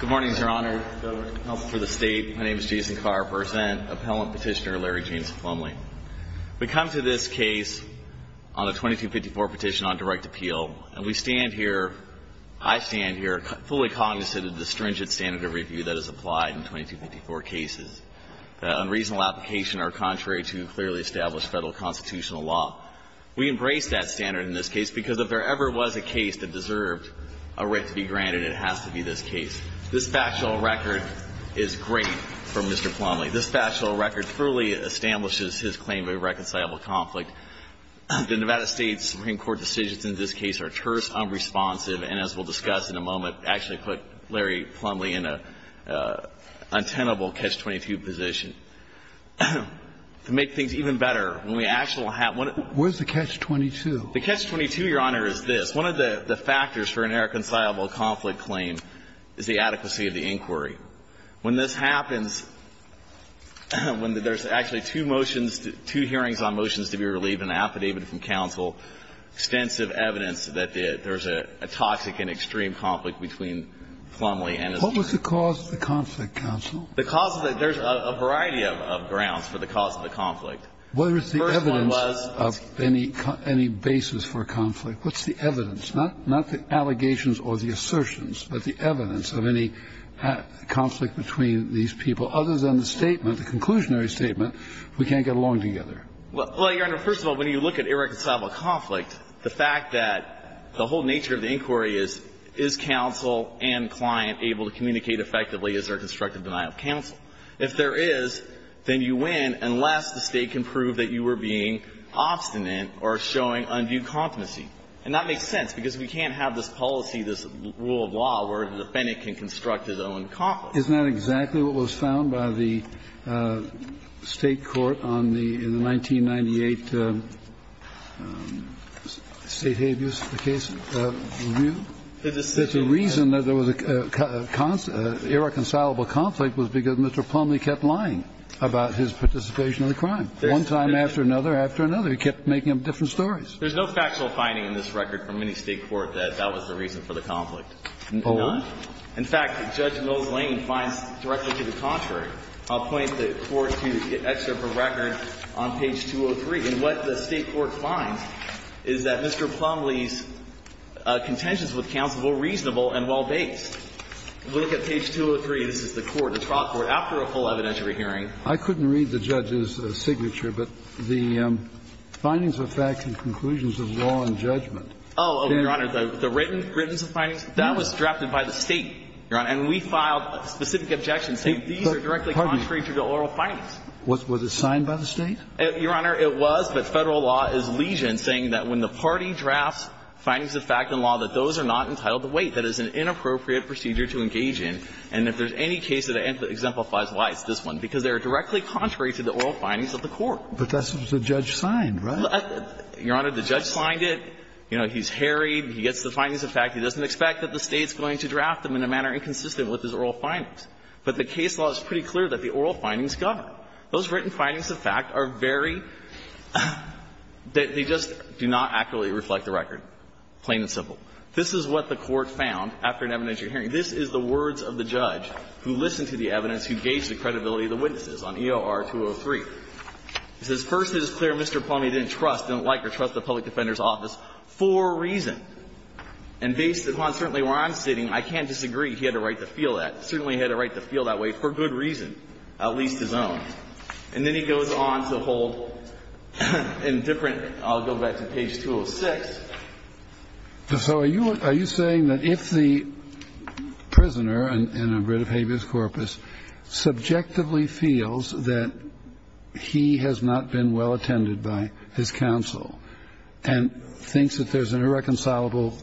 Good morning, Your Honor, members of the Counsel for the State. My name is Jason Carp, Appellant Petitioner, Larry James Plumlee. We come to this case on a 2254 petition on direct appeal, and we stand here, I stand here, fully cognizant of the stringent standard of review that is applied in 2254 cases. The unreasonable application are contrary to clearly established federal constitutional law. We embrace that standard in this case because if there ever was a case that deserved a writ to be granted, it has to be this case. This factual record is great for Mr. Plumlee. This factual record truly establishes his claim of a reconcilable conflict. The Nevada State Supreme Court decisions in this case are terse, unresponsive, and as we'll discuss in a moment, I want to actually put Larry Plumlee in an untenable Catch-22 position. To make things even better, when we actually have one of the cases. Where's the Catch-22? The Catch-22, Your Honor, is this. One of the factors for an irreconcilable conflict claim is the adequacy of the inquiry. When this happens, when there's actually two motions, two hearings on motions to be relieved and an affidavit from counsel, extensive evidence that there's a toxic and extreme conflict between Plumlee and his lawyer. What was the cause of the conflict, counsel? The cause is that there's a variety of grounds for the cause of the conflict. The first one was. What is the evidence of any basis for conflict? What's the evidence? Not the allegations or the assertions, but the evidence of any conflict between these people, other than the statement, the conclusionary statement, we can't get along together. Well, Your Honor, first of all, when you look at irreconcilable conflict, the fact that the whole nature of the inquiry is, is counsel and client able to communicate effectively, is there a constructive denial of counsel? If there is, then you win, unless the State can prove that you were being obstinate or showing undue competency. And that makes sense, because we can't have this policy, this rule of law, where the defendant can construct his own conflict. Isn't that exactly what was found by the State court on the 1998 state abuse case? The reason that there was a irreconcilable conflict was because Mr. Plumlee kept lying about his participation in the crime. One time after another, after another. He kept making up different stories. There's no factual finding in this record from any State court that that was the reason for the conflict. There's none. In fact, Judge Mills Lane finds directly to the contrary. I'll point the Court to an excerpt from record on page 203. And what the State court finds is that Mr. Plumlee's contentions with counsel were reasonable and well-based. Look at page 203. This is the court, the trial court, after a full evidentiary hearing. I couldn't read the judge's signature, but the findings of facts and conclusions of law and judgment. Oh, Your Honor. The written, written findings, that was drafted by the State, Your Honor. And we filed specific objections saying these are directly contrary to the oral findings. Was it signed by the State? Your Honor, it was, but Federal law is legion saying that when the party drafts findings of fact and law, that those are not entitled to wait. That is an inappropriate procedure to engage in. And if there's any case that exemplifies why, it's this one, because they are directly contrary to the oral findings of the court. But that's what the judge signed, right? Your Honor, the judge signed it. You know, he's harried. He gets the findings of fact. He doesn't expect that the State's going to draft them in a manner inconsistent with his oral findings. But the case law is pretty clear that the oral findings govern. Those written findings of fact are very – they just do not accurately reflect the record, plain and simple. This is what the court found after an evidentiary hearing. This is the words of the judge who listened to the evidence, who gauged the credibility of the witnesses on EOR 203. He says, And based upon certainly where I'm sitting, I can't disagree. He had a right to feel that. Certainly he had a right to feel that way for good reason, at least his own. And then he goes on to hold in different – I'll go back to page 206. So are you saying that if the prisoner in a writ of habeas corpus subjectively feels that he has not been well attended by his counsel and thinks that there's an irreconcilable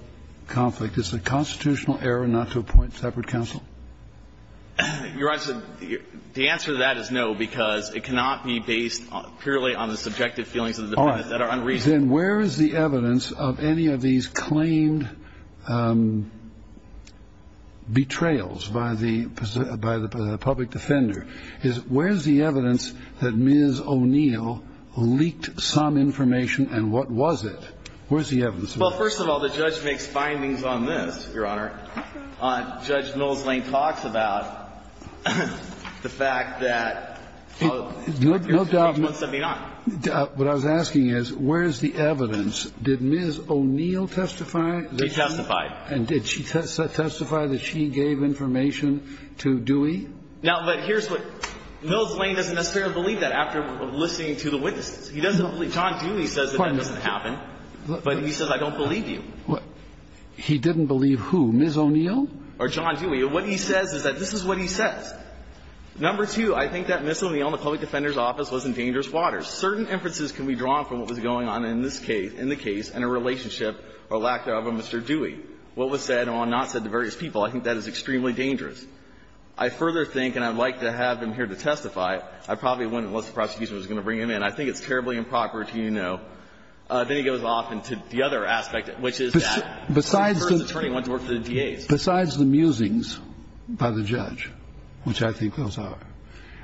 conflict, it's a constitutional error not to appoint separate counsel? Your Honor, the answer to that is no, because it cannot be based purely on the subjective feelings of the defendant that are unreasonable. All right. Then where is the evidence of any of these claimed betrayals by the public defender? Where is the evidence that Ms. O'Neill leaked some information and what was it? Where is the evidence of this? Well, first of all, the judge makes findings on this, Your Honor. Judge Mills Lane talks about the fact that – No doubt. Page 179. What I was asking is, where is the evidence? Did Ms. O'Neill testify? They testified. And did she testify that she gave information to Dewey? Now, but here's what – Mills Lane doesn't necessarily believe that after listening to the witnesses. He doesn't believe – John Dewey says that that doesn't happen, but he says I don't believe you. He didn't believe who, Ms. O'Neill? Or John Dewey. What he says is that this is what he says. Number two, I think that Ms. O'Neill and the public defender's office was in dangerous waters. Certain inferences can be drawn from what was going on in this case, in the case, and her relationship or lack thereof with Mr. Dewey. What was said and what was not said to various people, I think that is extremely dangerous. I further think, and I'd like to have him here to testify. I probably wouldn't unless the prosecution was going to bring him in. I think it's terribly improper to, you know. Then he goes off into the other aspect, which is that the first attorney went to work for the DAs. Besides the musings by the judge, which I think those are,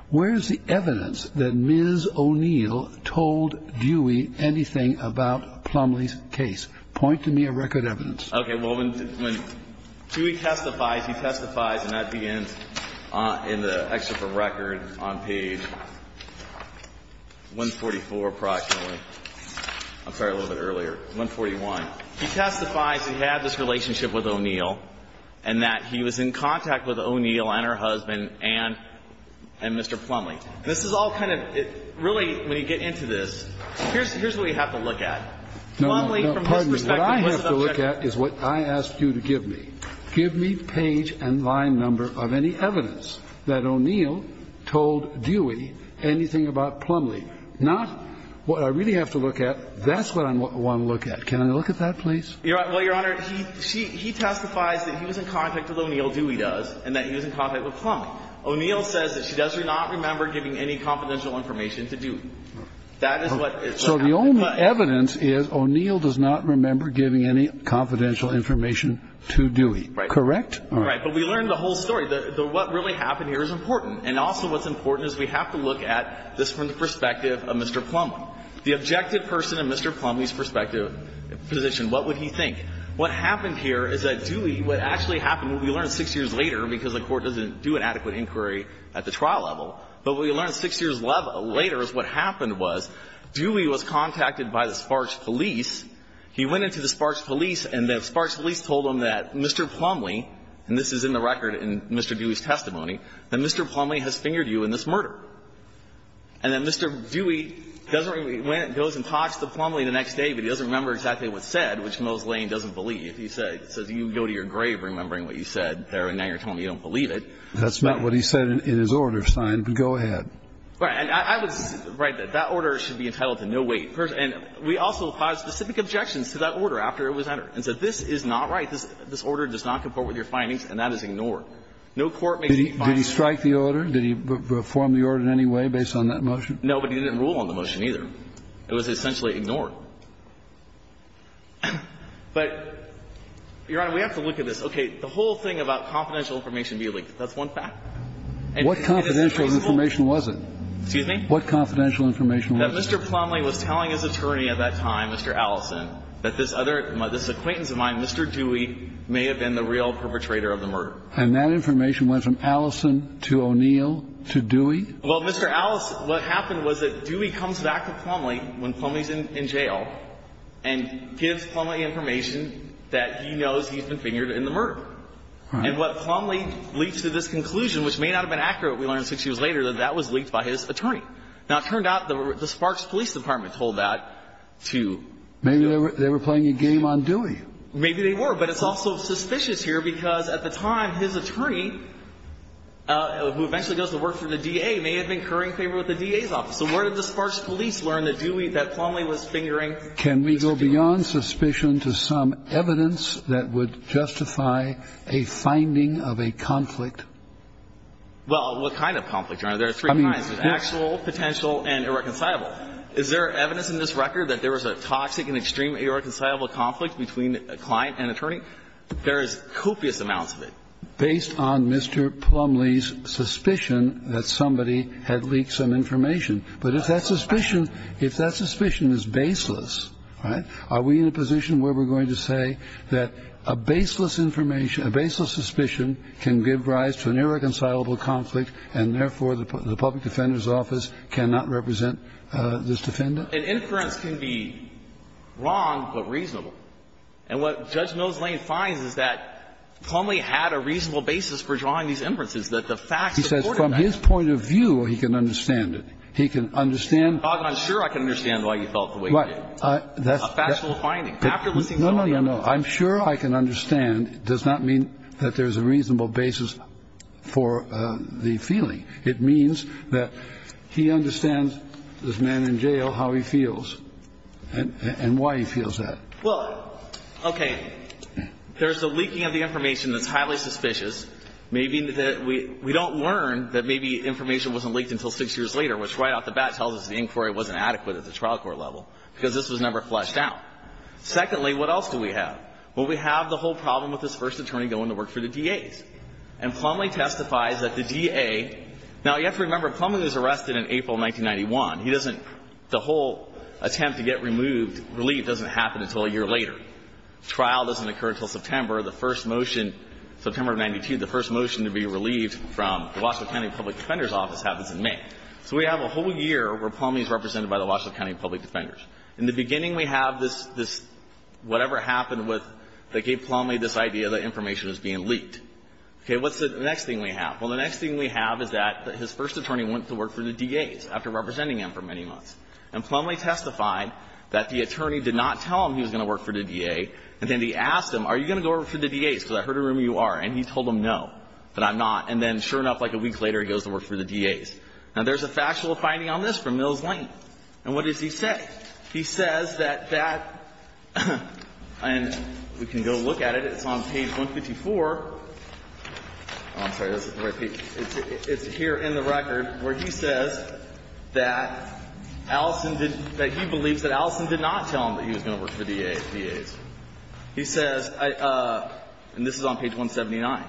where is the evidence that Ms. O'Neill told Dewey anything about Plumlee's case? Point to me a record evidence. Okay. Well, when Dewey testifies, he testifies, and that begins in the excerpt of record on page 144 approximately. I'm sorry, a little bit earlier, 141. He testifies he had this relationship with O'Neill and that he was in contact with O'Neill and her husband and Mr. Plumlee. This is all kind of really, when you get into this, here's what you have to look at. Plumlee, from his perspective, was an object of the case. No, no, pardon me. What I have to look at is what I asked you to give me. Give me page and line number of any evidence that O'Neill told Dewey anything about Plumlee, not what I really have to look at. That's what I want to look at. Can I look at that, please? Well, Your Honor, he testifies that he was in contact with O'Neill, Dewey does, and that he was in contact with Plumlee. O'Neill says that she does not remember giving any confidential information to Dewey. That is what happened. So the only evidence is O'Neill does not remember giving any confidential information to Dewey. Right. Correct? Right. But we learned the whole story. What really happened here is important. And also what's important is we have to look at this from the perspective of Mr. Plumlee. The objective person in Mr. Plumlee's perspective, position, what would he think? What happened here is that Dewey, what actually happened, we learned six years later, because the Court doesn't do an adequate inquiry at the trial level, but we learned six years later is what happened was Dewey was contacted by the Sparks police. He went into the Sparks police, and the Sparks police told him that Mr. Plumlee and this is in the record in Mr. Dewey's testimony, that Mr. Plumlee has fingered you in this murder. And that Mr. Dewey doesn't really goes and talks to Plumlee the next day, but he doesn't remember exactly what's said, which Moss Lane doesn't believe. He says you go to your grave remembering what you said there, and now you're telling me you don't believe it. That's not what he said in his order, Stein, but go ahead. Right. And I was right that that order should be entitled to no wait. And we also filed specific objections to that order after it was entered and said this is not right. This order does not comport with your findings, and that is ignored. No court makes these findings. Did he strike the order? Did he perform the order in any way based on that motion? No, but he didn't rule on the motion either. It was essentially ignored. But, Your Honor, we have to look at this. Okay. The whole thing about confidential information being leaked, that's one fact. And what confidential information was it? Excuse me? What confidential information was it? That Mr. Plumlee was telling his attorney at that time, Mr. Allison, that this other Mr. Dewey may have been the real perpetrator of the murder. And that information went from Allison to O'Neill to Dewey? Well, Mr. Allison, what happened was that Dewey comes back to Plumlee when Plumlee is in jail and gives Plumlee information that he knows he's been fingered in the murder. And what Plumlee leaks to this conclusion, which may not have been accurate, we learned six years later, that that was leaked by his attorney. Now, it turned out the Sparks Police Department told that to Dewey. Maybe they were playing a game on Dewey. Maybe they were. But it's also suspicious here because at the time his attorney, who eventually goes to work for the DA, may have been incurring favor with the DA's office. So where did the Sparks Police learn that Dewey, that Plumlee was fingering Mr. Dewey? Can we go beyond suspicion to some evidence that would justify a finding of a conflict? Well, what kind of conflict, Your Honor? There are three kinds, actual, potential, and irreconcilable. Is there evidence in this record that there was a toxic and extreme irreconcilable conflict between a client and attorney? There is copious amounts of it. Based on Mr. Plumlee's suspicion that somebody had leaked some information. But if that suspicion, if that suspicion is baseless, all right, are we in a position where we're going to say that a baseless information, a baseless suspicion can give rise to an irreconcilable conflict and therefore the public defender's office cannot represent this defendant? An inference can be wrong but reasonable. And what Judge Nose Lane finds is that Plumlee had a reasonable basis for drawing these inferences, that the facts supported that. From his point of view, he can understand it. He can understand. I'm sure I can understand why he felt the way he did. A factual finding. No, no, no. I'm sure I can understand. It does not mean that there's a reasonable basis for the feeling. It means that he understands, this man in jail, how he feels and why he feels that. Well, okay. There's a leaking of the information that's highly suspicious. We don't learn that maybe information wasn't leaked until six years later, which right off the bat tells us the inquiry wasn't adequate at the trial court level because this was never fleshed out. Secondly, what else do we have? Well, we have the whole problem with this first attorney going to work for the DA. And Plumlee testifies that the DA – now, you have to remember, Plumlee was arrested in April 1991. He doesn't – the whole attempt to get removed, relief, doesn't happen until a year later. The trial doesn't occur until September. The first motion – September of 1992, the first motion to be relieved from the Washoe County Public Defender's Office happens in May. So we have a whole year where Plumlee is represented by the Washoe County Public Defenders. In the beginning, we have this – whatever happened with – that gave Plumlee this idea that information was being leaked. Okay, what's the next thing we have? Well, the next thing we have is that his first attorney went to work for the DA's after representing him for many months. And Plumlee testified that the attorney did not tell him he was going to work for the DA. And then he asked him, are you going to go work for the DA's, because I heard a rumor you are. And he told him no, that I'm not. And then, sure enough, like a week later, he goes to work for the DA's. Now, there's a factual finding on this from Mills Lane. And what does he say? He says that that – and we can go look at it. It's on page 154. Oh, I'm sorry, this is the right page. It's here in the record where he says that Allison did – that he believes that Allison did not tell him that he was going to work for the DA's. He says – and this is on page 179.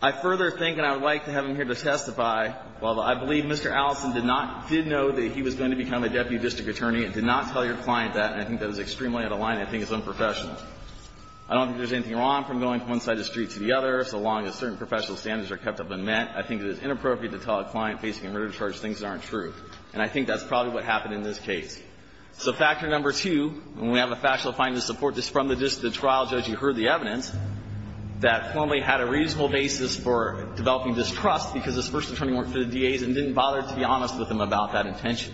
I further think, and I would like to have him here to testify, well, I believe Mr. Allison did not – did know that he was going to become a deputy district attorney and did not tell your client that. And I think that is extremely out of line. I think it's unprofessional. I don't think there's anything wrong from going from one side of the street to the other, so long as certain professional standards are kept up and met. I think it is inappropriate to tell a client facing a murder charge things that aren't And I think that's probably what happened in this case. So factor number two, and we have a factual finding to support this from the trial judge who heard the evidence, that Plumlee had a reasonable basis for developing distrust because his first attorney worked for the DA's and didn't bother to be honest with him about that intention.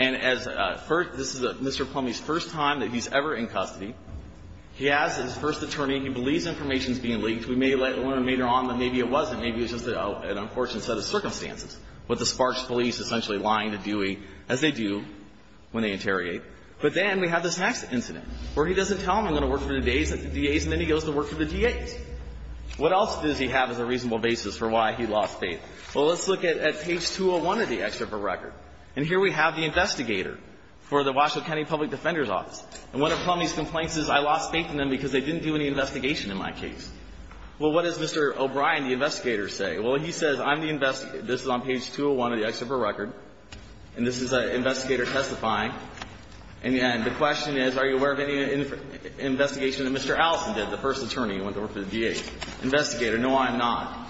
And as – this is Mr. Plumlee's first time that he's ever in custody. He has his first attorney. He believes information is being leaked. We may later on – maybe it wasn't. Maybe it was just an unfortunate set of circumstances with the Sparks police essentially lying to Dewey, as they do when they interrogate. But then we have this next incident where he doesn't tell them he's going to work for the DA's and then he goes to work for the DA's. What else does he have as a reasonable basis for why he lost faith? Well, let's look at page 201 of the excerpt of the record. And here we have the investigator for the Washoe County Public Defender's Office. And one of Plumlee's complaints is, I lost faith in them because they didn't do any investigation in my case. Well, what does Mr. O'Brien, the investigator, say? Well, he says, I'm the – this is on page 201 of the excerpt of the record. And this is an investigator testifying. And the question is, are you aware of any investigation that Mr. Allison did, the first attorney who went to work for the DA? Investigator, no, I'm not.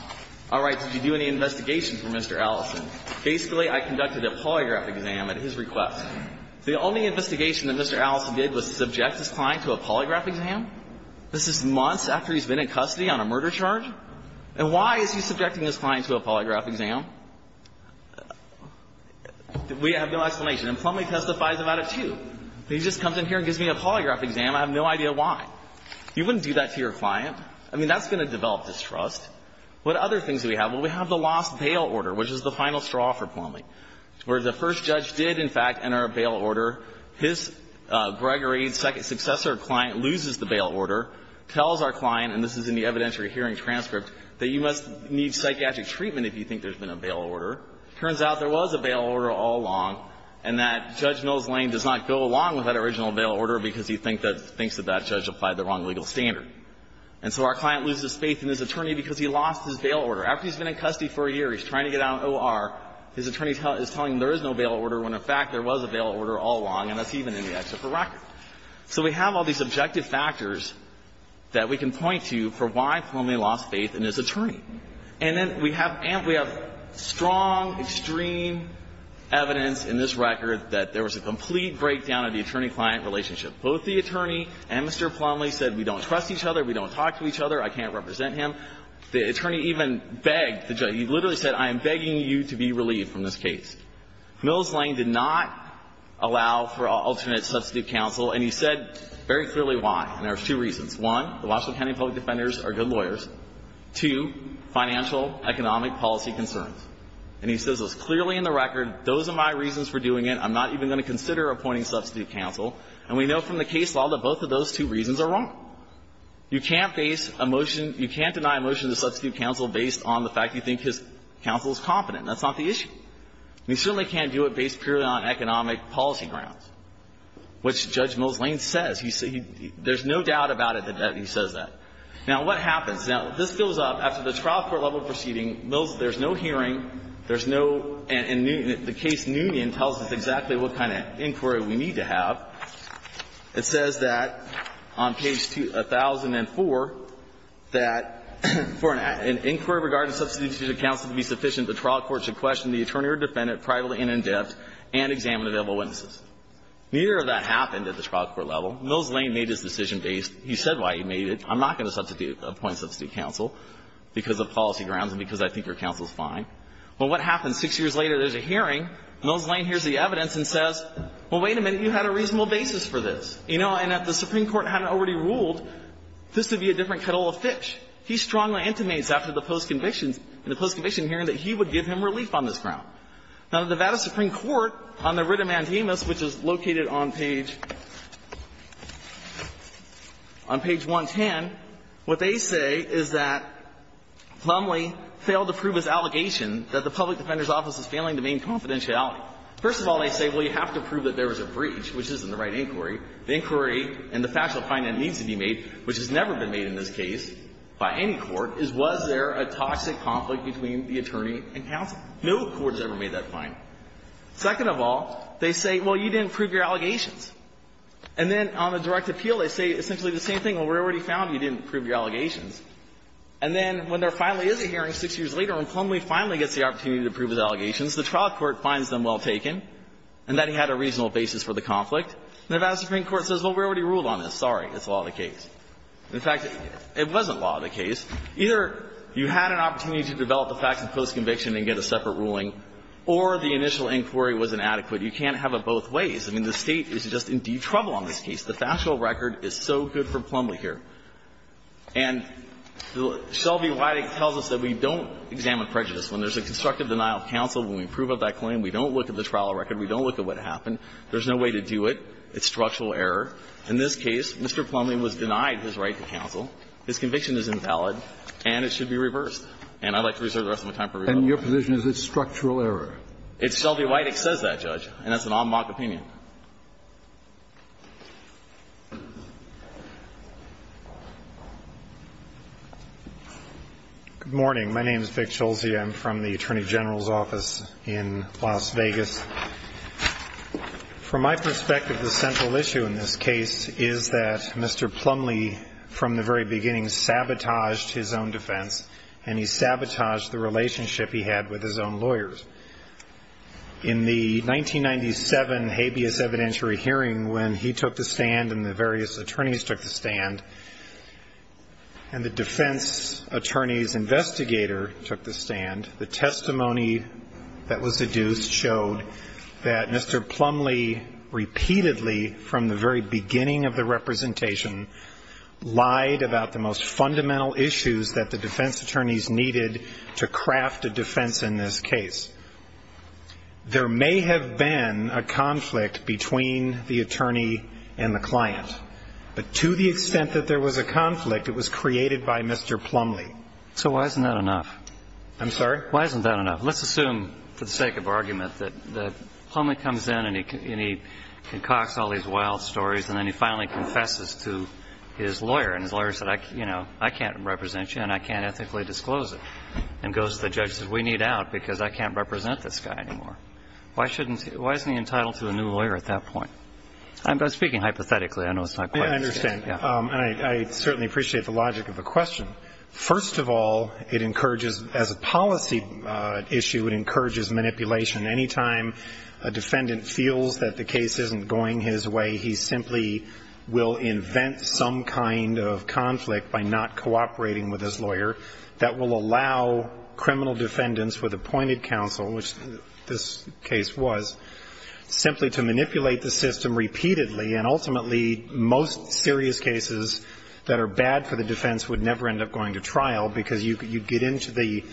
All right, did you do any investigation for Mr. Allison? Basically, I conducted a polygraph exam at his request. The only investigation that Mr. Allison did was subject his client to a polygraph exam? This is months after he's been in custody on a murder charge? And why is he subjecting his client to a polygraph exam? We have no explanation. And Plumlee testifies about it, too. He just comes in here and gives me a polygraph exam. I have no idea why. You wouldn't do that to your client. I mean, that's going to develop distrust. What other things do we have? Well, we have the lost bail order, which is the final straw for Plumlee, where the first judge did, in fact, enter a bail order. His – Gregory's second – successor client loses the bail order, tells our client and this is in the evidentiary hearing transcript, that you must need psychiatric treatment if you think there's been a bail order. It turns out there was a bail order all along and that Judge Mills Lane does not go along with that original bail order because he thinks that that judge applied the wrong legal standard. And so our client loses faith in his attorney because he lost his bail order. After he's been in custody for a year, he's trying to get out on O.R., his attorney is telling him there is no bail order when, in fact, there was a bail order all along and that's even in the excerpt for record. So we have all these objective factors that we can point to for why Plumlee lost faith in his attorney. And then we have – and we have strong, extreme evidence in this record that there was a complete breakdown of the attorney-client relationship. Both the attorney and Mr. Plumlee said, we don't trust each other, we don't talk to each other, I can't represent him. The attorney even begged the judge. He literally said, I am begging you to be relieved from this case. Mills Lane did not allow for alternate substitute counsel, and he said very clearly why, and there are two reasons. One, the Washoe County public defenders are good lawyers. Two, financial, economic policy concerns. And he says this clearly in the record. Those are my reasons for doing it. I'm not even going to consider appointing substitute counsel. And we know from the case law that both of those two reasons are wrong. You can't face a motion – you can't deny a motion to substitute counsel based on the fact you think his counsel is competent. That's not the issue. And you certainly can't do it based purely on economic policy grounds, which Judge Mills Lane says. There's no doubt about it that he says that. Now, what happens? Now, this fills up. After the trial court-level proceeding, Mills – there's no hearing, there's no – and Newton – the case Newton tells us exactly what kind of inquiry we need to have. It says that on page 1004, that, for an inquiry regarding substitute counsel to be sufficient, the trial court should question the attorney or defendant privately and in depth and examine available witnesses. Neither of that happened at the trial court-level. Mills Lane made his decision based – he said why he made it. I'm not going to substitute – appoint substitute counsel because of policy grounds and because I think your counsel is fine. Well, what happens? Six years later, there's a hearing. Mills Lane hears the evidence and says, well, wait a minute, you had a reasonable basis for this. You know, and if the Supreme Court hadn't already ruled, this would be a different kettle of fish. He strongly intimates after the post-conviction – the post-conviction hearing that he would give him relief on this ground. Now, the Nevada Supreme Court, on the writ of mandamus, which is located on page – on page 110, what they say is that Plumlee failed to prove his allegation that the public defender's office is failing the main confidentiality. First of all, they say, well, you have to prove that there was a breach, which isn't the right inquiry. The inquiry and the factual finding needs to be made, which has never been made in this case by any court, is was there a toxic conflict between the attorney and counsel? No court has ever made that find. Second of all, they say, well, you didn't prove your allegations. And then on the direct appeal, they say essentially the same thing. Well, we already found you didn't prove your allegations. And then when there finally is a hearing six years later and Plumlee finally gets the opportunity to prove his allegations, the trial court finds them well taken and that he had a reasonable basis for the conflict. And the Nevada Supreme Court says, well, we already ruled on this. Sorry. It's a law of the case. In fact, it wasn't law of the case. Either you had an opportunity to develop the facts in postconviction and get a separate ruling, or the initial inquiry was inadequate. You can't have it both ways. I mean, the State is just in deep trouble on this case. The factual record is so good for Plumlee here. And Shelby Wydick tells us that we don't examine prejudice. When there's a constructive denial of counsel, when we prove up that claim, we don't look at the trial record, we don't look at what happened. There's no way to do it. It's structural error. In this case, Mr. Plumlee was denied his right to counsel. His conviction is invalid. And it should be reversed. And I'd like to reserve the rest of my time for rebuttal. And your position is it's structural error? It's Shelby Wydick says that, Judge. And that's an en bloc opinion. Good morning. My name is Vic Schulze. I'm from the Attorney General's office in Las Vegas. From my perspective, the central issue in this case is that Mr. Plumlee, from the very beginning, sabotaged his own defense. And he sabotaged the relationship he had with his own lawyers. In the 1997 habeas evidentiary hearing, when he took the stand and the various attorneys took the stand, and the defense attorney's investigator took the stand, the issue is, John, that Mr. Plumlee repeatedly, from the very beginning of the representation, lied about the most fundamental issues that the defense attorneys needed to craft a defense in this case. There may have been a conflict between the attorney and the client. But to the extent that there was a conflict, it was created by Mr. Plumlee. So why isn't that enough? I'm sorry? Why isn't that enough? Let's assume, for the sake of argument, that Plumlee comes in and he concocts all these wild stories, and then he finally confesses to his lawyer. And his lawyer said, you know, I can't represent you and I can't ethically disclose it. And goes to the judge and says, we need out because I can't represent this guy anymore. Why shouldn't he? Why isn't he entitled to a new lawyer at that point? I'm speaking hypothetically. I know it's not quite as good. Yeah, I understand. And I certainly appreciate the logic of the question. First of all, it encourages, as a policy issue, it encourages manipulation. Anytime a defendant feels that the case isn't going his way, he simply will invent some kind of conflict by not cooperating with his lawyer that will allow criminal defendants with appointed counsel, which this case was, simply to manipulate the system repeatedly. And ultimately, most serious cases that are bad for the defense would never end up going to trial because you'd get into the,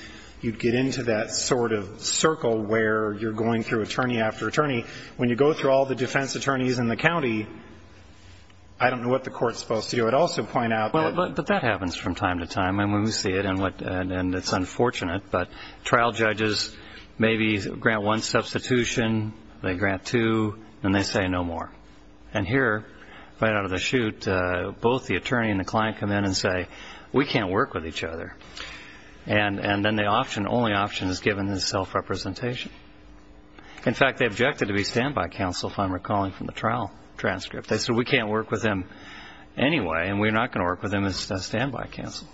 you'd get into that sort of circle where you're going through attorney after attorney. When you go through all the defense attorneys in the county, I don't know what the court's supposed to do. I'd also point out that. But that happens from time to time. I mean, we see it and it's unfortunate, but trial judges maybe grant one substitution, they grant two, and they say no more. And here, right out of the chute, both the attorney and the client come in and say, we can't work with each other. And then the only option is given is self-representation. In fact, they objected to be standby counsel, if I'm recalling from the trial transcript. They said, we can't work with him anyway, and we're not going to work with him as standby counsel.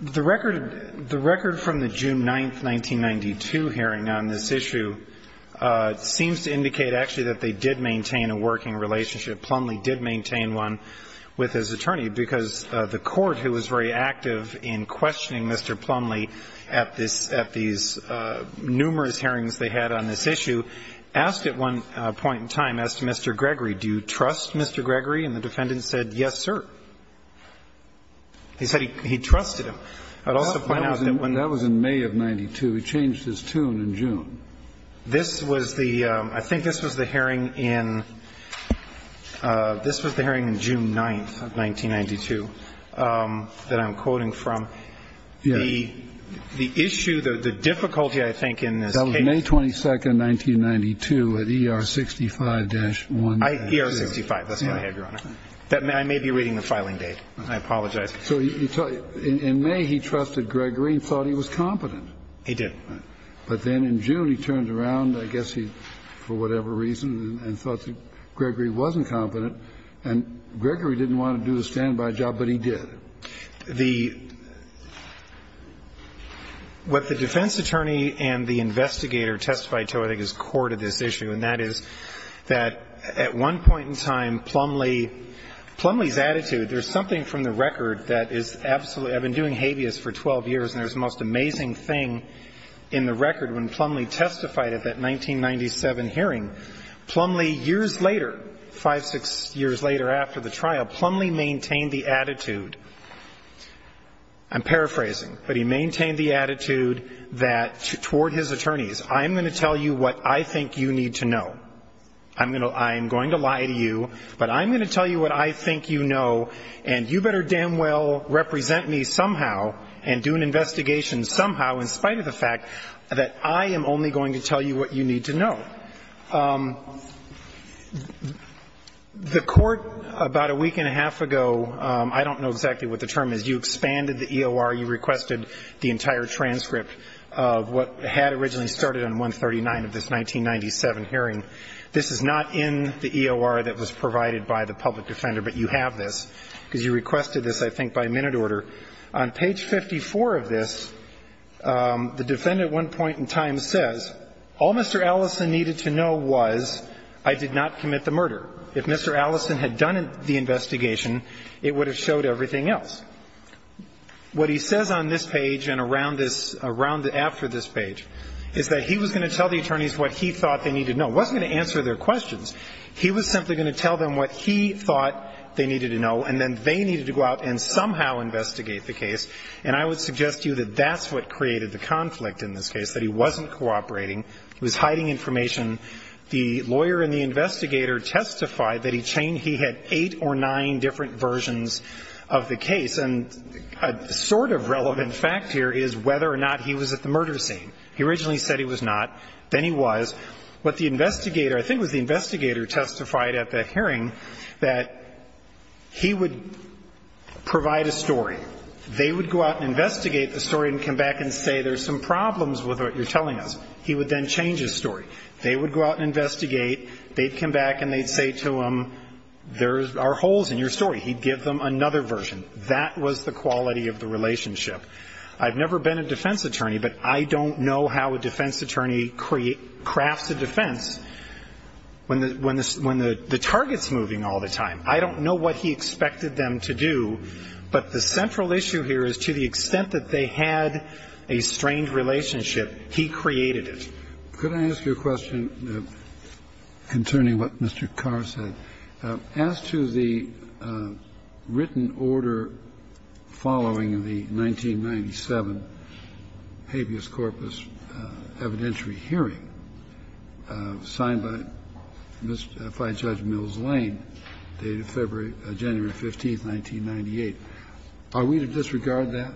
The record from the June 9, 1992, hearing on this issue seems to indicate actually that they did maintain a working relationship. Plumlee did maintain one with his attorney, because the court, who was very active in questioning Mr. Plumlee at this, at these numerous hearings they had on this issue, asked at one point in time, asked Mr. Gregory, do you trust Mr. Gregory? And the defendant said, yes, sir. He said he trusted him. I'd also point out that when. That was in May of 92. He changed his tune in June. This was the, I think this was the hearing in, this was the hearing in June 9, 1992, that I'm quoting from. The issue, the difficulty, I think, in this case. That was May 22, 1992, at ER 65-1. ER 65. That's what I have, Your Honor. I may be reading the filing date. I apologize. So in May he trusted Gregory and thought he was competent. He did. But then in June he turned around, I guess he, for whatever reason, and thought that Gregory wasn't competent. And Gregory didn't want to do the standby job, but he did. The, what the defense attorney and the investigator testified to, I think, is core to this issue, and that is that at one point in time, Plumlee, Plumlee's attitude, there's something from the record that is absolutely, I've been doing habeas for in the record when Plumlee testified at that 1997 hearing. Plumlee, years later, five, six years later after the trial, Plumlee maintained the attitude, I'm paraphrasing, but he maintained the attitude that toward his attorneys, I'm going to tell you what I think you need to know. I'm going to lie to you, but I'm going to tell you what I think you know, and you better damn well represent me somehow and do an investigation somehow in spite of the fact that I am only going to tell you what you need to know. The Court about a week and a half ago, I don't know exactly what the term is, you expanded the EOR, you requested the entire transcript of what had originally started on 139 of this 1997 hearing. This is not in the EOR that was provided by the public defender, but you have this because you requested this, I think, by minute order. On page 54 of this, the defendant at one point in time says, all Mr. Allison needed to know was I did not commit the murder. If Mr. Allison had done the investigation, it would have showed everything else. What he says on this page and around this, around after this page, is that he was going to tell the attorneys what he thought they needed to know. It wasn't going to answer their questions. He was simply going to tell them what he thought they needed to know, and then they would investigate the case. And I would suggest to you that that's what created the conflict in this case, that he wasn't cooperating. He was hiding information. The lawyer and the investigator testified that he had eight or nine different versions of the case. And a sort of relevant fact here is whether or not he was at the murder scene. He originally said he was not. Then he was. But the investigator, I think it was the investigator, testified at that hearing that he would provide a story. They would go out and investigate the story and come back and say, there's some problems with what you're telling us. He would then change his story. They would go out and investigate. They'd come back and they'd say to him, there are holes in your story. He'd give them another version. That was the quality of the relationship. I've never been a defense attorney, but I don't know how a defense attorney crafts a defense when the target's moving all the time. I don't know what he expected them to do, but the central issue here is to the extent that they had a strained relationship, he created it. Could I ask you a question concerning what Mr. Carr said? As to the written order following the 1997 habeas corpus evidentiary hearing, signed by Fighting Judge Mills Lane, dated January 15, 1998, are we to disregard that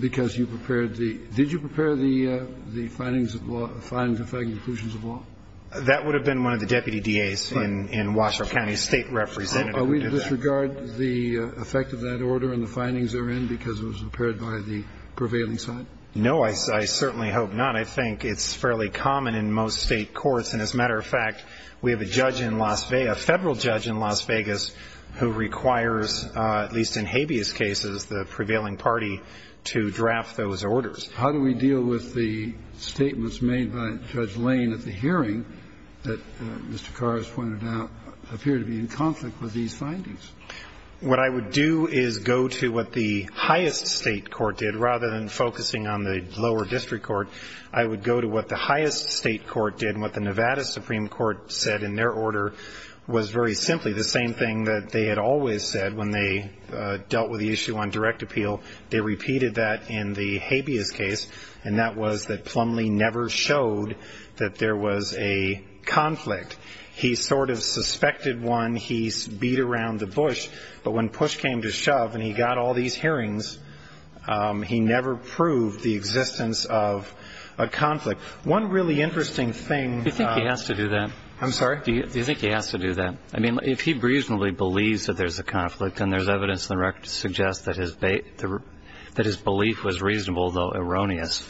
because you prepared the ‑‑ did you prepare the findings of law, the findings affecting conclusions of law? That would have been one of the deputy DAs in Washoe County, a state representative who did that. Are we to disregard the effect of that order and the findings therein because it was prepared by the prevailing side? No, I certainly hope not. I think it's fairly common in most state courts, and as a matter of fact, we have a judge in Las Vegas, a federal judge in Las Vegas, who requires, at least in habeas cases, the prevailing party to draft those orders. How do we deal with the statements made by Judge Lane at the hearing that Mr. Carr has pointed out appear to be in conflict with these findings? What I would do is go to what the highest state court did rather than focusing on the lower district court. I would go to what the highest state court did and what the Nevada Supreme Court said in their order was very simply the same thing that they had always said when they dealt with the issue on direct appeal. They repeated that in the habeas case, and that was that Plumlee never showed that there was a conflict. He sort of suspected one. He beat around the bush. But when push came to shove and he got all these hearings, he never proved the existence of a conflict. One really interesting thing. Do you think he has to do that? I'm sorry? Do you think he has to do that? I mean, if he reasonably believes that there's a conflict and there's evidence in the record to suggest that his belief was reasonable, though erroneous,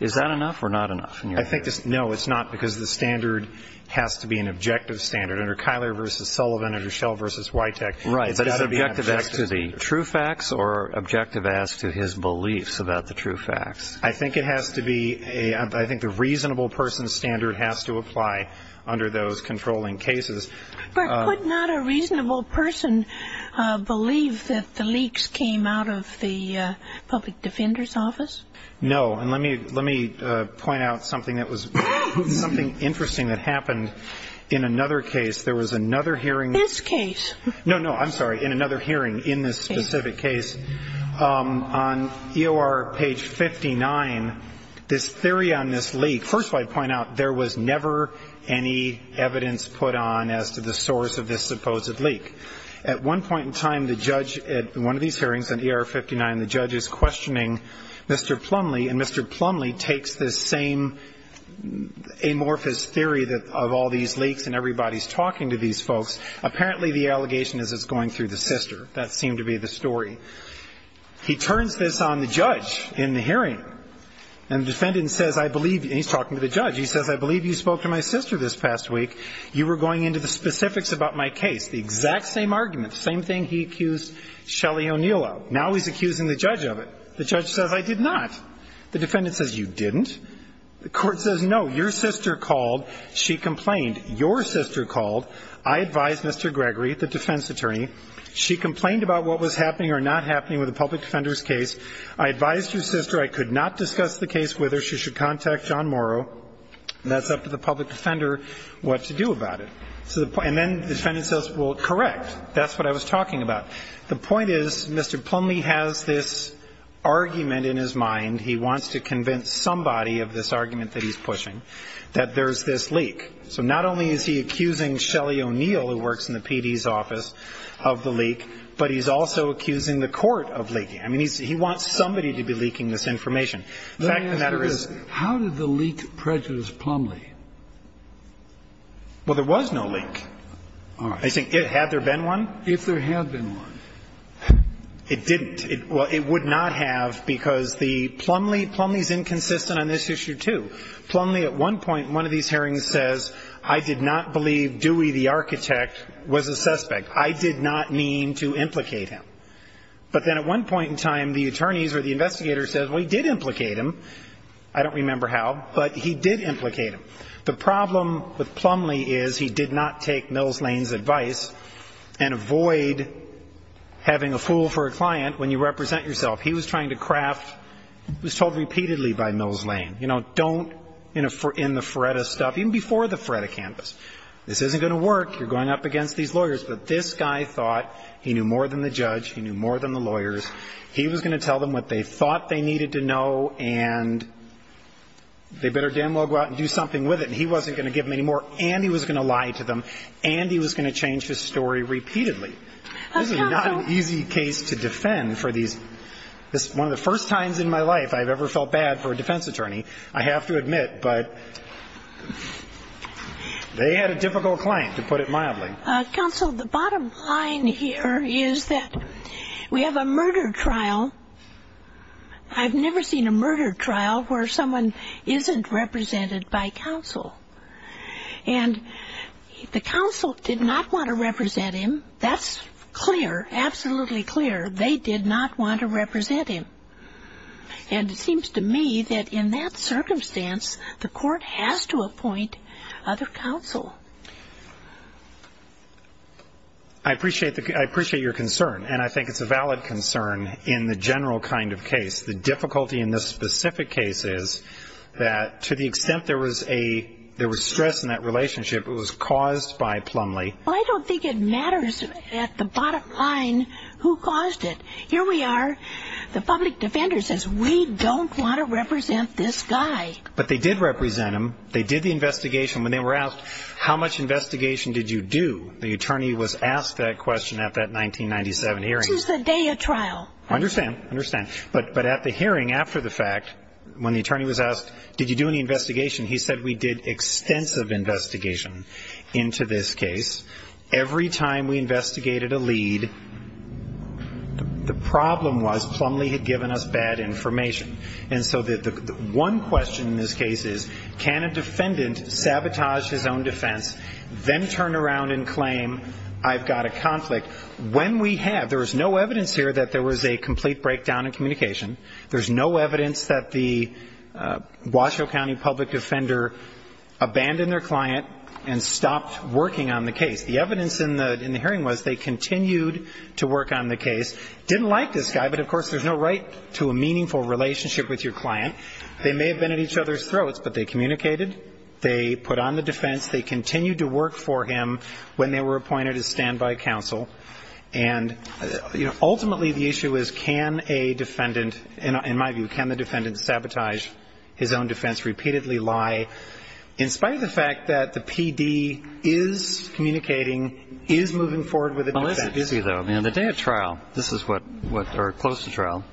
is that enough or not enough? No, it's not because the standard has to be an objective standard. Under Kyler v. Sullivan, under Schell v. Witek, it's got to be an objective standard. Right, but is it objective as to the true facts or objective as to his beliefs about the true facts? I think it has to be a reasonable person's standard has to apply under those controlling cases. But could not a reasonable person believe that the leaks came out of the public defender's office? No. And let me point out something that was something interesting that happened in another case. There was another hearing. This case. No, no, I'm sorry. In another hearing in this specific case. On EOR page 59, this theory on this leak. First of all, I'd point out there was never any evidence put on as to the source of this supposed leak. At one point in time, the judge at one of these hearings on EOR 59, the judge is questioning Mr. Plumlee, and Mr. Plumlee takes this same amorphous theory of all these leaks and everybody's talking to these folks. Apparently the allegation is it's going through the sister. That seemed to be the story. He turns this on the judge in the hearing. And the defendant says, I believe, and he's talking to the judge, he says, I believe you spoke to my sister this past week. You were going into the specifics about my case. The exact same argument. The same thing he accused Shelly O'Neill of. Now he's accusing the judge of it. The judge says, I did not. The defendant says, you didn't. The court says, no, your sister called. She complained. Your sister called. I advised Mr. Gregory, the defense attorney. She complained about what was happening or not happening with the public defender's case. I advised your sister I could not discuss the case with her. She should contact John Morrow. And that's up to the public defender what to do about it. And then the defendant says, well, correct. That's what I was talking about. The point is, Mr. Plumlee has this argument in his mind. He wants to convince somebody of this argument that he's pushing that there's this leak. So not only is he accusing Shelly O'Neill, who works in the PD's office, of the leak, but he's also accusing the court of leaking. I mean, he wants somebody to be leaking this information. The fact of the matter is how did the leak prejudice Plumlee? Well, there was no leak. All right. Had there been one? If there had been one. It didn't. Well, it would not have, because the Plumlee, Plumlee's inconsistent on this issue, too. Plumlee at one point in one of these hearings says, I did not believe Dewey, the architect, was a suspect. I did not mean to implicate him. But then at one point in time, the attorneys or the investigators said, well, he did implicate him. I don't remember how, but he did implicate him. The problem with Plumlee is he did not take Mills Lane's advice and avoid having a fool for a client when you represent yourself. He was trying to craft, was told repeatedly by Mills Lane, you know, don't, in the Feretta stuff, even before the Feretta campus, this isn't going to work. You're going up against these lawyers. But this guy thought he knew more than the judge. He knew more than the lawyers. He was going to tell them what they thought they needed to know, and they better damn well go out and do something with it. And he wasn't going to give them any more, and he was going to lie to them, and he was going to change his story repeatedly. This is not an easy case to defend for these. This is one of the first times in my life I've ever felt bad for a defense attorney, I have to admit. But they had a difficult client, to put it mildly. Counsel, the bottom line here is that we have a murder trial. I've never seen a murder trial where someone isn't represented by counsel. And the counsel did not want to represent him. That's clear, absolutely clear. They did not want to represent him. And it seems to me that in that circumstance, the court has to appoint other counsel. I appreciate your concern, and I think it's a valid concern in the general kind of case. The difficulty in this specific case is that to the extent there was stress in that relationship, it was caused by Plumlee. I don't think it matters at the bottom line who caused it. Here we are, the public defender says, we don't want to represent this guy. But they did represent him. They did the investigation. When they were asked, how much investigation did you do, the attorney was asked that question at that 1997 hearing. It was the day of trial. I understand, I understand. But at the hearing after the fact, when the attorney was asked, did you do any investigation, he said, we did extensive investigation into this case. Every time we investigated a lead, the problem was Plumlee had given us bad information. And so the one question in this case is, can a defendant sabotage his own defense, then turn around and claim, I've got a conflict. When we have, there was no evidence here that there was a complete breakdown in communication. There's no evidence that the Washoe County public defender abandoned their client and stopped working on the case. The evidence in the hearing was they continued to work on the case, didn't like this guy, but of course there's no right to a meaningful relationship with your client. They may have been at each other's throats, but they communicated. They put on the defense. They continued to work for him when they were appointed as standby counsel. And ultimately the issue is, can a defendant, in my view, can the defendant sabotage his own defense, repeatedly lie, in spite of the fact that the PD is communicating, is moving forward with a defense. It's easy, though. On the day of trial, this is what, or close to trial,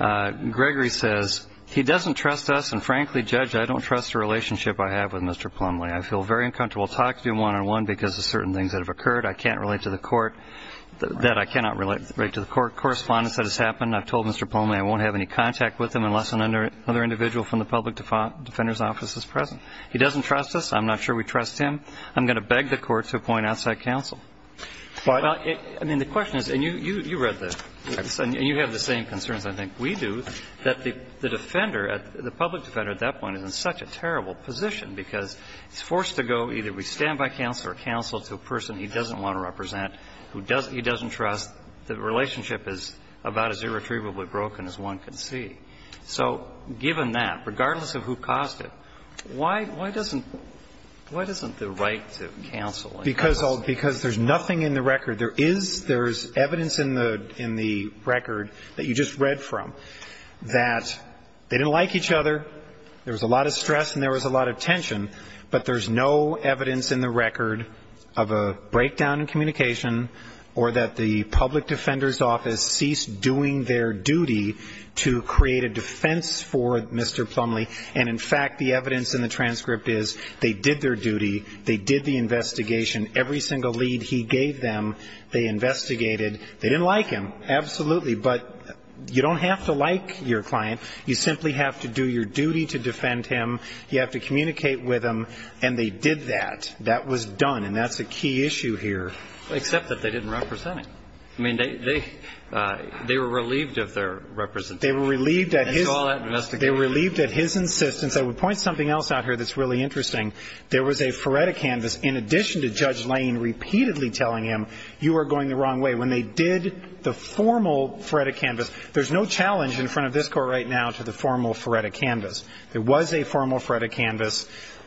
Gregory says, he doesn't trust us and frankly, Judge, I don't trust the relationship I have with Mr. Plumlee. I feel very uncomfortable talking to him one-on-one because of certain things that have occurred I can't relate to the court, that I cannot relate to the court. Correspondence that has happened, I've told Mr. Plumlee I won't have any contact with him unless another individual from the public defender's office is present. He doesn't trust us. I'm not sure we trust him. I'm going to beg the court to appoint outside counsel. But I mean, the question is, and you read this, and you have the same concerns I think we do, that the defender, the public defender at that point is in such a terrible position because he's forced to go either be standby counsel or counsel to a person he doesn't want to represent, who he doesn't trust. The relationship is about as irretrievably broken as one can see. So given that, regardless of who caused it, why doesn't the right to counsel Because there's nothing in the record. There is evidence in the record that you just read from that they didn't like each other. There was a lot of stress and there was a lot of tension. But there's no evidence in the record of a breakdown in communication or that the public defender's office ceased doing their duty to create a defense for Mr. Plumlee. And in fact, the evidence in the transcript is they did their duty. They did the investigation. Every single lead he gave them, they investigated. They didn't like him. Absolutely. But you don't have to like your client. You simply have to do your duty to defend him. You have to communicate with him. And they did that. That was done. And that's a key issue here. Except that they didn't represent him. I mean, they were relieved of their representation. They were relieved at his insistence. I would point something else out here that's really interesting. There was a Feretta canvas in addition to Judge Lane repeatedly telling him, you are going the wrong way. When they did the formal Feretta canvas, there's no challenge in front of this court right now to the formal Feretta canvas. There was a formal Feretta canvas.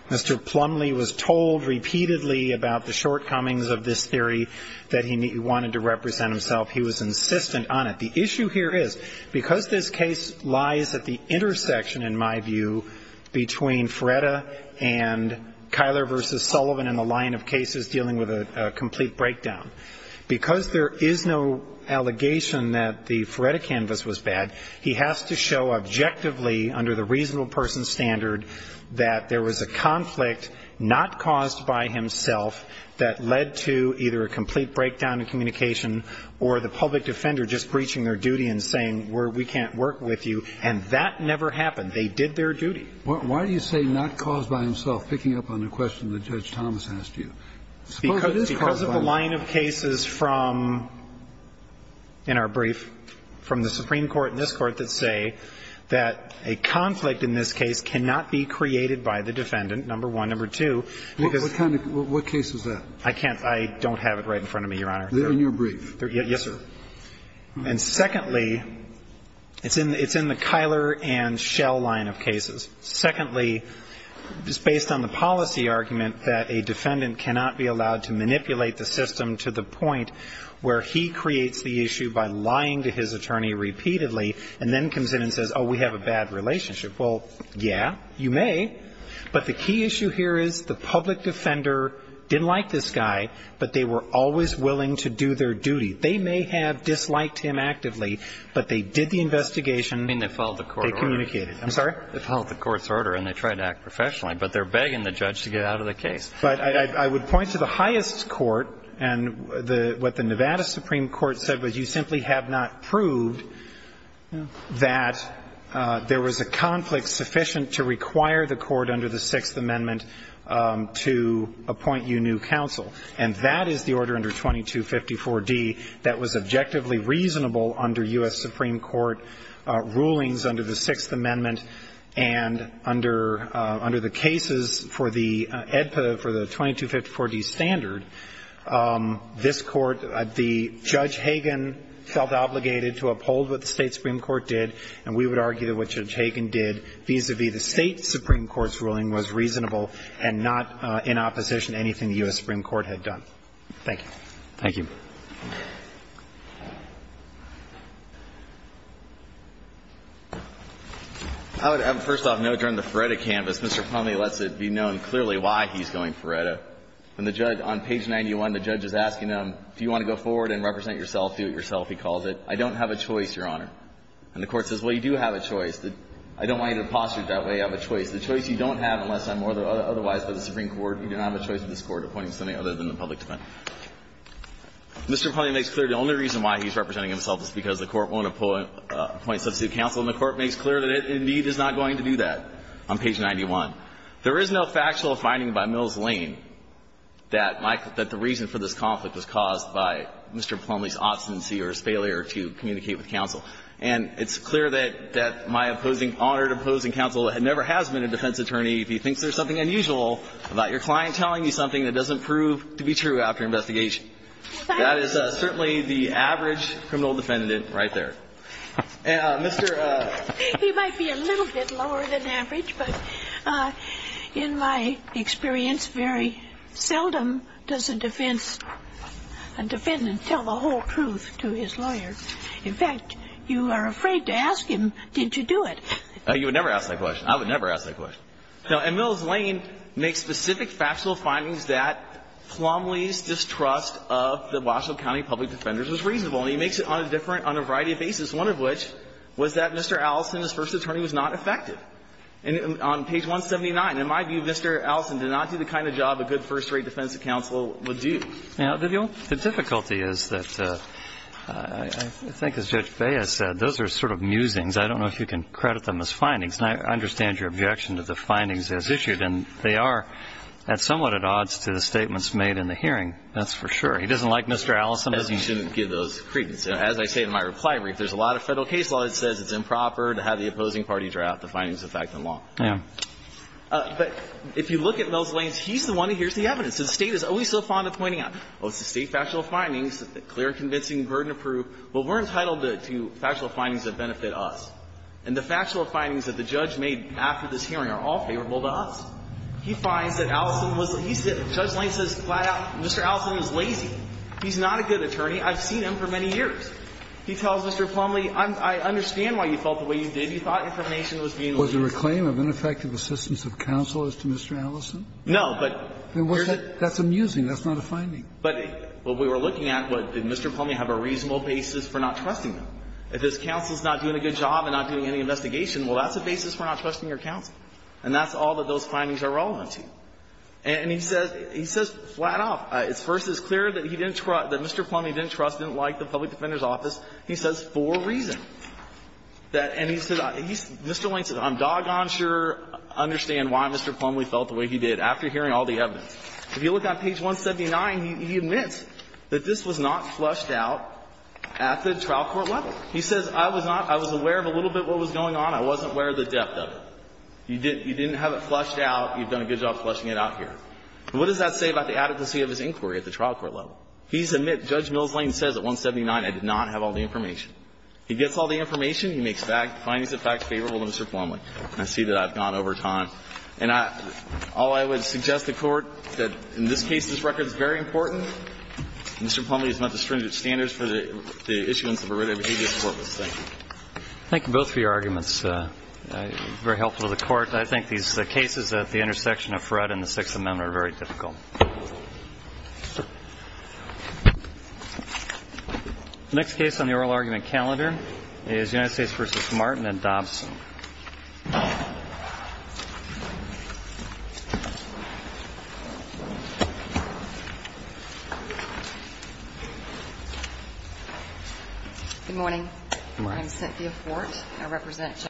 Mr. Plumlee was told repeatedly about the shortcomings of this theory that he wanted to represent himself. He was insistent on it. The issue here is because this case lies at the intersection, in my view, between Feretta and Kyler versus Sullivan in the line of cases dealing with a complete breakdown. Because there is no allegation that the Feretta canvas was bad, he has to show objectively under the reasonable person standard that there was a conflict not caused by himself that led to either a complete breakdown in communication or the public defender just breaching their duty and saying, we can't work with you. And that never happened. They did their duty. Why do you say not caused by himself? Picking up on the question that Judge Thomas asked you. Because of the line of cases from, in our brief, from the Supreme Court and this Court that say that a conflict in this case cannot be created by the defendant, number one. Number two, because... What kind of, what case is that? I can't, I don't have it right in front of me, Your Honor. In your brief? Yes, sir. And secondly, it's in the Kyler and Schell line of cases. Secondly, it's based on the policy argument that a defendant cannot be allowed to manipulate the system to the point where he creates the issue by lying to his attorney repeatedly and then comes in and says, oh, we have a bad relationship. Well, yeah, you may. But the key issue here is the public defender didn't like this guy, but they were always willing to do their duty. They may have disliked him actively, but they did the investigation. I mean, they followed the court order. They communicated. I'm sorry? They followed the court's order and they tried to act professionally, but they're begging the judge to get out of the case. But I would point to the highest court and what the Nevada Supreme Court said was you simply have not proved that there was a conflict sufficient to require the court under the Sixth Amendment to appoint you new counsel. And that is the order under 2254d that was objectively reasonable under U.S. Supreme Court rulings under the Sixth Amendment. And under the cases for the EDPA, for the 2254d standard, this Court, Judge Hagan felt obligated to uphold what the State Supreme Court did, and we would argue that what Judge Hagan did vis-a-vis the State Supreme Court's ruling was reasonable and not in opposition to anything the U.S. Supreme Court had done. Thank you. Thank you. I would, first off, note during the Feretta canvass, Mr. Plumlee lets it be known clearly why he's going Feretta. When the judge, on page 91, the judge is asking him, do you want to go forward and represent yourself, do it yourself, he calls it. I don't have a choice, Your Honor. And the court says, well, you do have a choice. I don't want you to posture it that way. You have a choice. The choice you don't have unless I'm otherwise by the Supreme Court. You do not have a choice in this Court appointing somebody other than the public defendant. Mr. Plumlee makes clear the only reason why he's representing himself is because the court won't appoint substitute counsel, and the court makes clear that it indeed is not going to do that on page 91. There is no factual finding by Mills Lane that the reason for this conflict was caused by Mr. Plumlee's obstinacy or his failure to communicate with counsel. And it's clear that my opposing, honored opposing counsel never has been a defense attorney if he thinks there's something unusual about your client telling you something that doesn't prove to be true after investigation. That is certainly the average criminal defendant right there. And Mr. ---- He might be a little bit lower than average, but in my experience, very seldom does a defense, a defendant tell the whole truth to his lawyer. In fact, you are afraid to ask him, did you do it? You would never ask that question. I would never ask that question. No. And Mills Lane makes specific factual findings that Plumlee's distrust of the Washoe County public defenders was reasonable, and he makes it on a different, on a variety of basis, one of which was that Mr. Allison, his first attorney, was not effective. And on page 179, in my view, Mr. Allison did not do the kind of job a good first rate defense counsel would do. Now, Vivian, the difficulty is that I think as Judge Baez said, those are sort of musings. I don't know if you can credit them as findings. And I understand your objection to the findings as issued, and they are somewhat at odds to the statements made in the hearing. That's for sure. He doesn't like Mr. Allison. He shouldn't give those credence. As I say in my reply brief, there's a lot of Federal case law that says it's improper to have the opposing party draft the findings of fact and law. Yeah. But if you look at Mills Lane, he's the one who hears the evidence. So the State is always so fond of pointing out, oh, it's the State factual findings. It's clear, convincing, burden-proof. Well, we're entitled to factual findings that benefit us. And the factual findings that the judge made after this hearing are all favorable to us. He finds that Allison was lazy. Judge Lane says flat out, Mr. Allison was lazy. He's not a good attorney. I've seen him for many years. He tells Mr. Plumlee, I understand why you felt the way you did. You thought information was being lazy. Was there a claim of ineffective assistance of counsel as to Mr. Allison? No. But here's the thing. That's amusing. That's not a finding. But what we were looking at, did Mr. Plumlee have a reasonable basis for not trusting him? If his counsel is not doing a good job and not doing any investigation, well, that's a basis for not trusting your counsel. And that's all that those findings are relevant to. And he says flat off, first, it's clear that he didn't trust, that Mr. Plumlee didn't trust, didn't like the public defender's office, he says for a reason. And he said, Mr. Lane said, I'm doggone sure I understand why Mr. Plumlee felt the way he did. After hearing all the evidence. If you look on page 179, he admits that this was not flushed out at the trial court level. He says, I was not, I was aware of a little bit of what was going on. I wasn't aware of the depth of it. You didn't have it flushed out. You've done a good job flushing it out here. What does that say about the adequacy of his inquiry at the trial court level? He's admitted, Judge Mills Lane says at 179, I did not have all the information. He gets all the information. He makes findings of facts favorable to Mr. Plumlee. And I see that I've gone over time. And I, all I would suggest to the Court that in this case, this record is very important. Mr. Plumlee has met the stringent standards for the issuance of a writ of adequacy report. Thank you. Thank you both for your arguments. Very helpful to the Court. I think these cases at the intersection of Fred and the Sixth Amendment are very difficult. The next case on the oral argument calendar is United States v. Martin and Dobson. Good morning. I'm Cynthia Fort.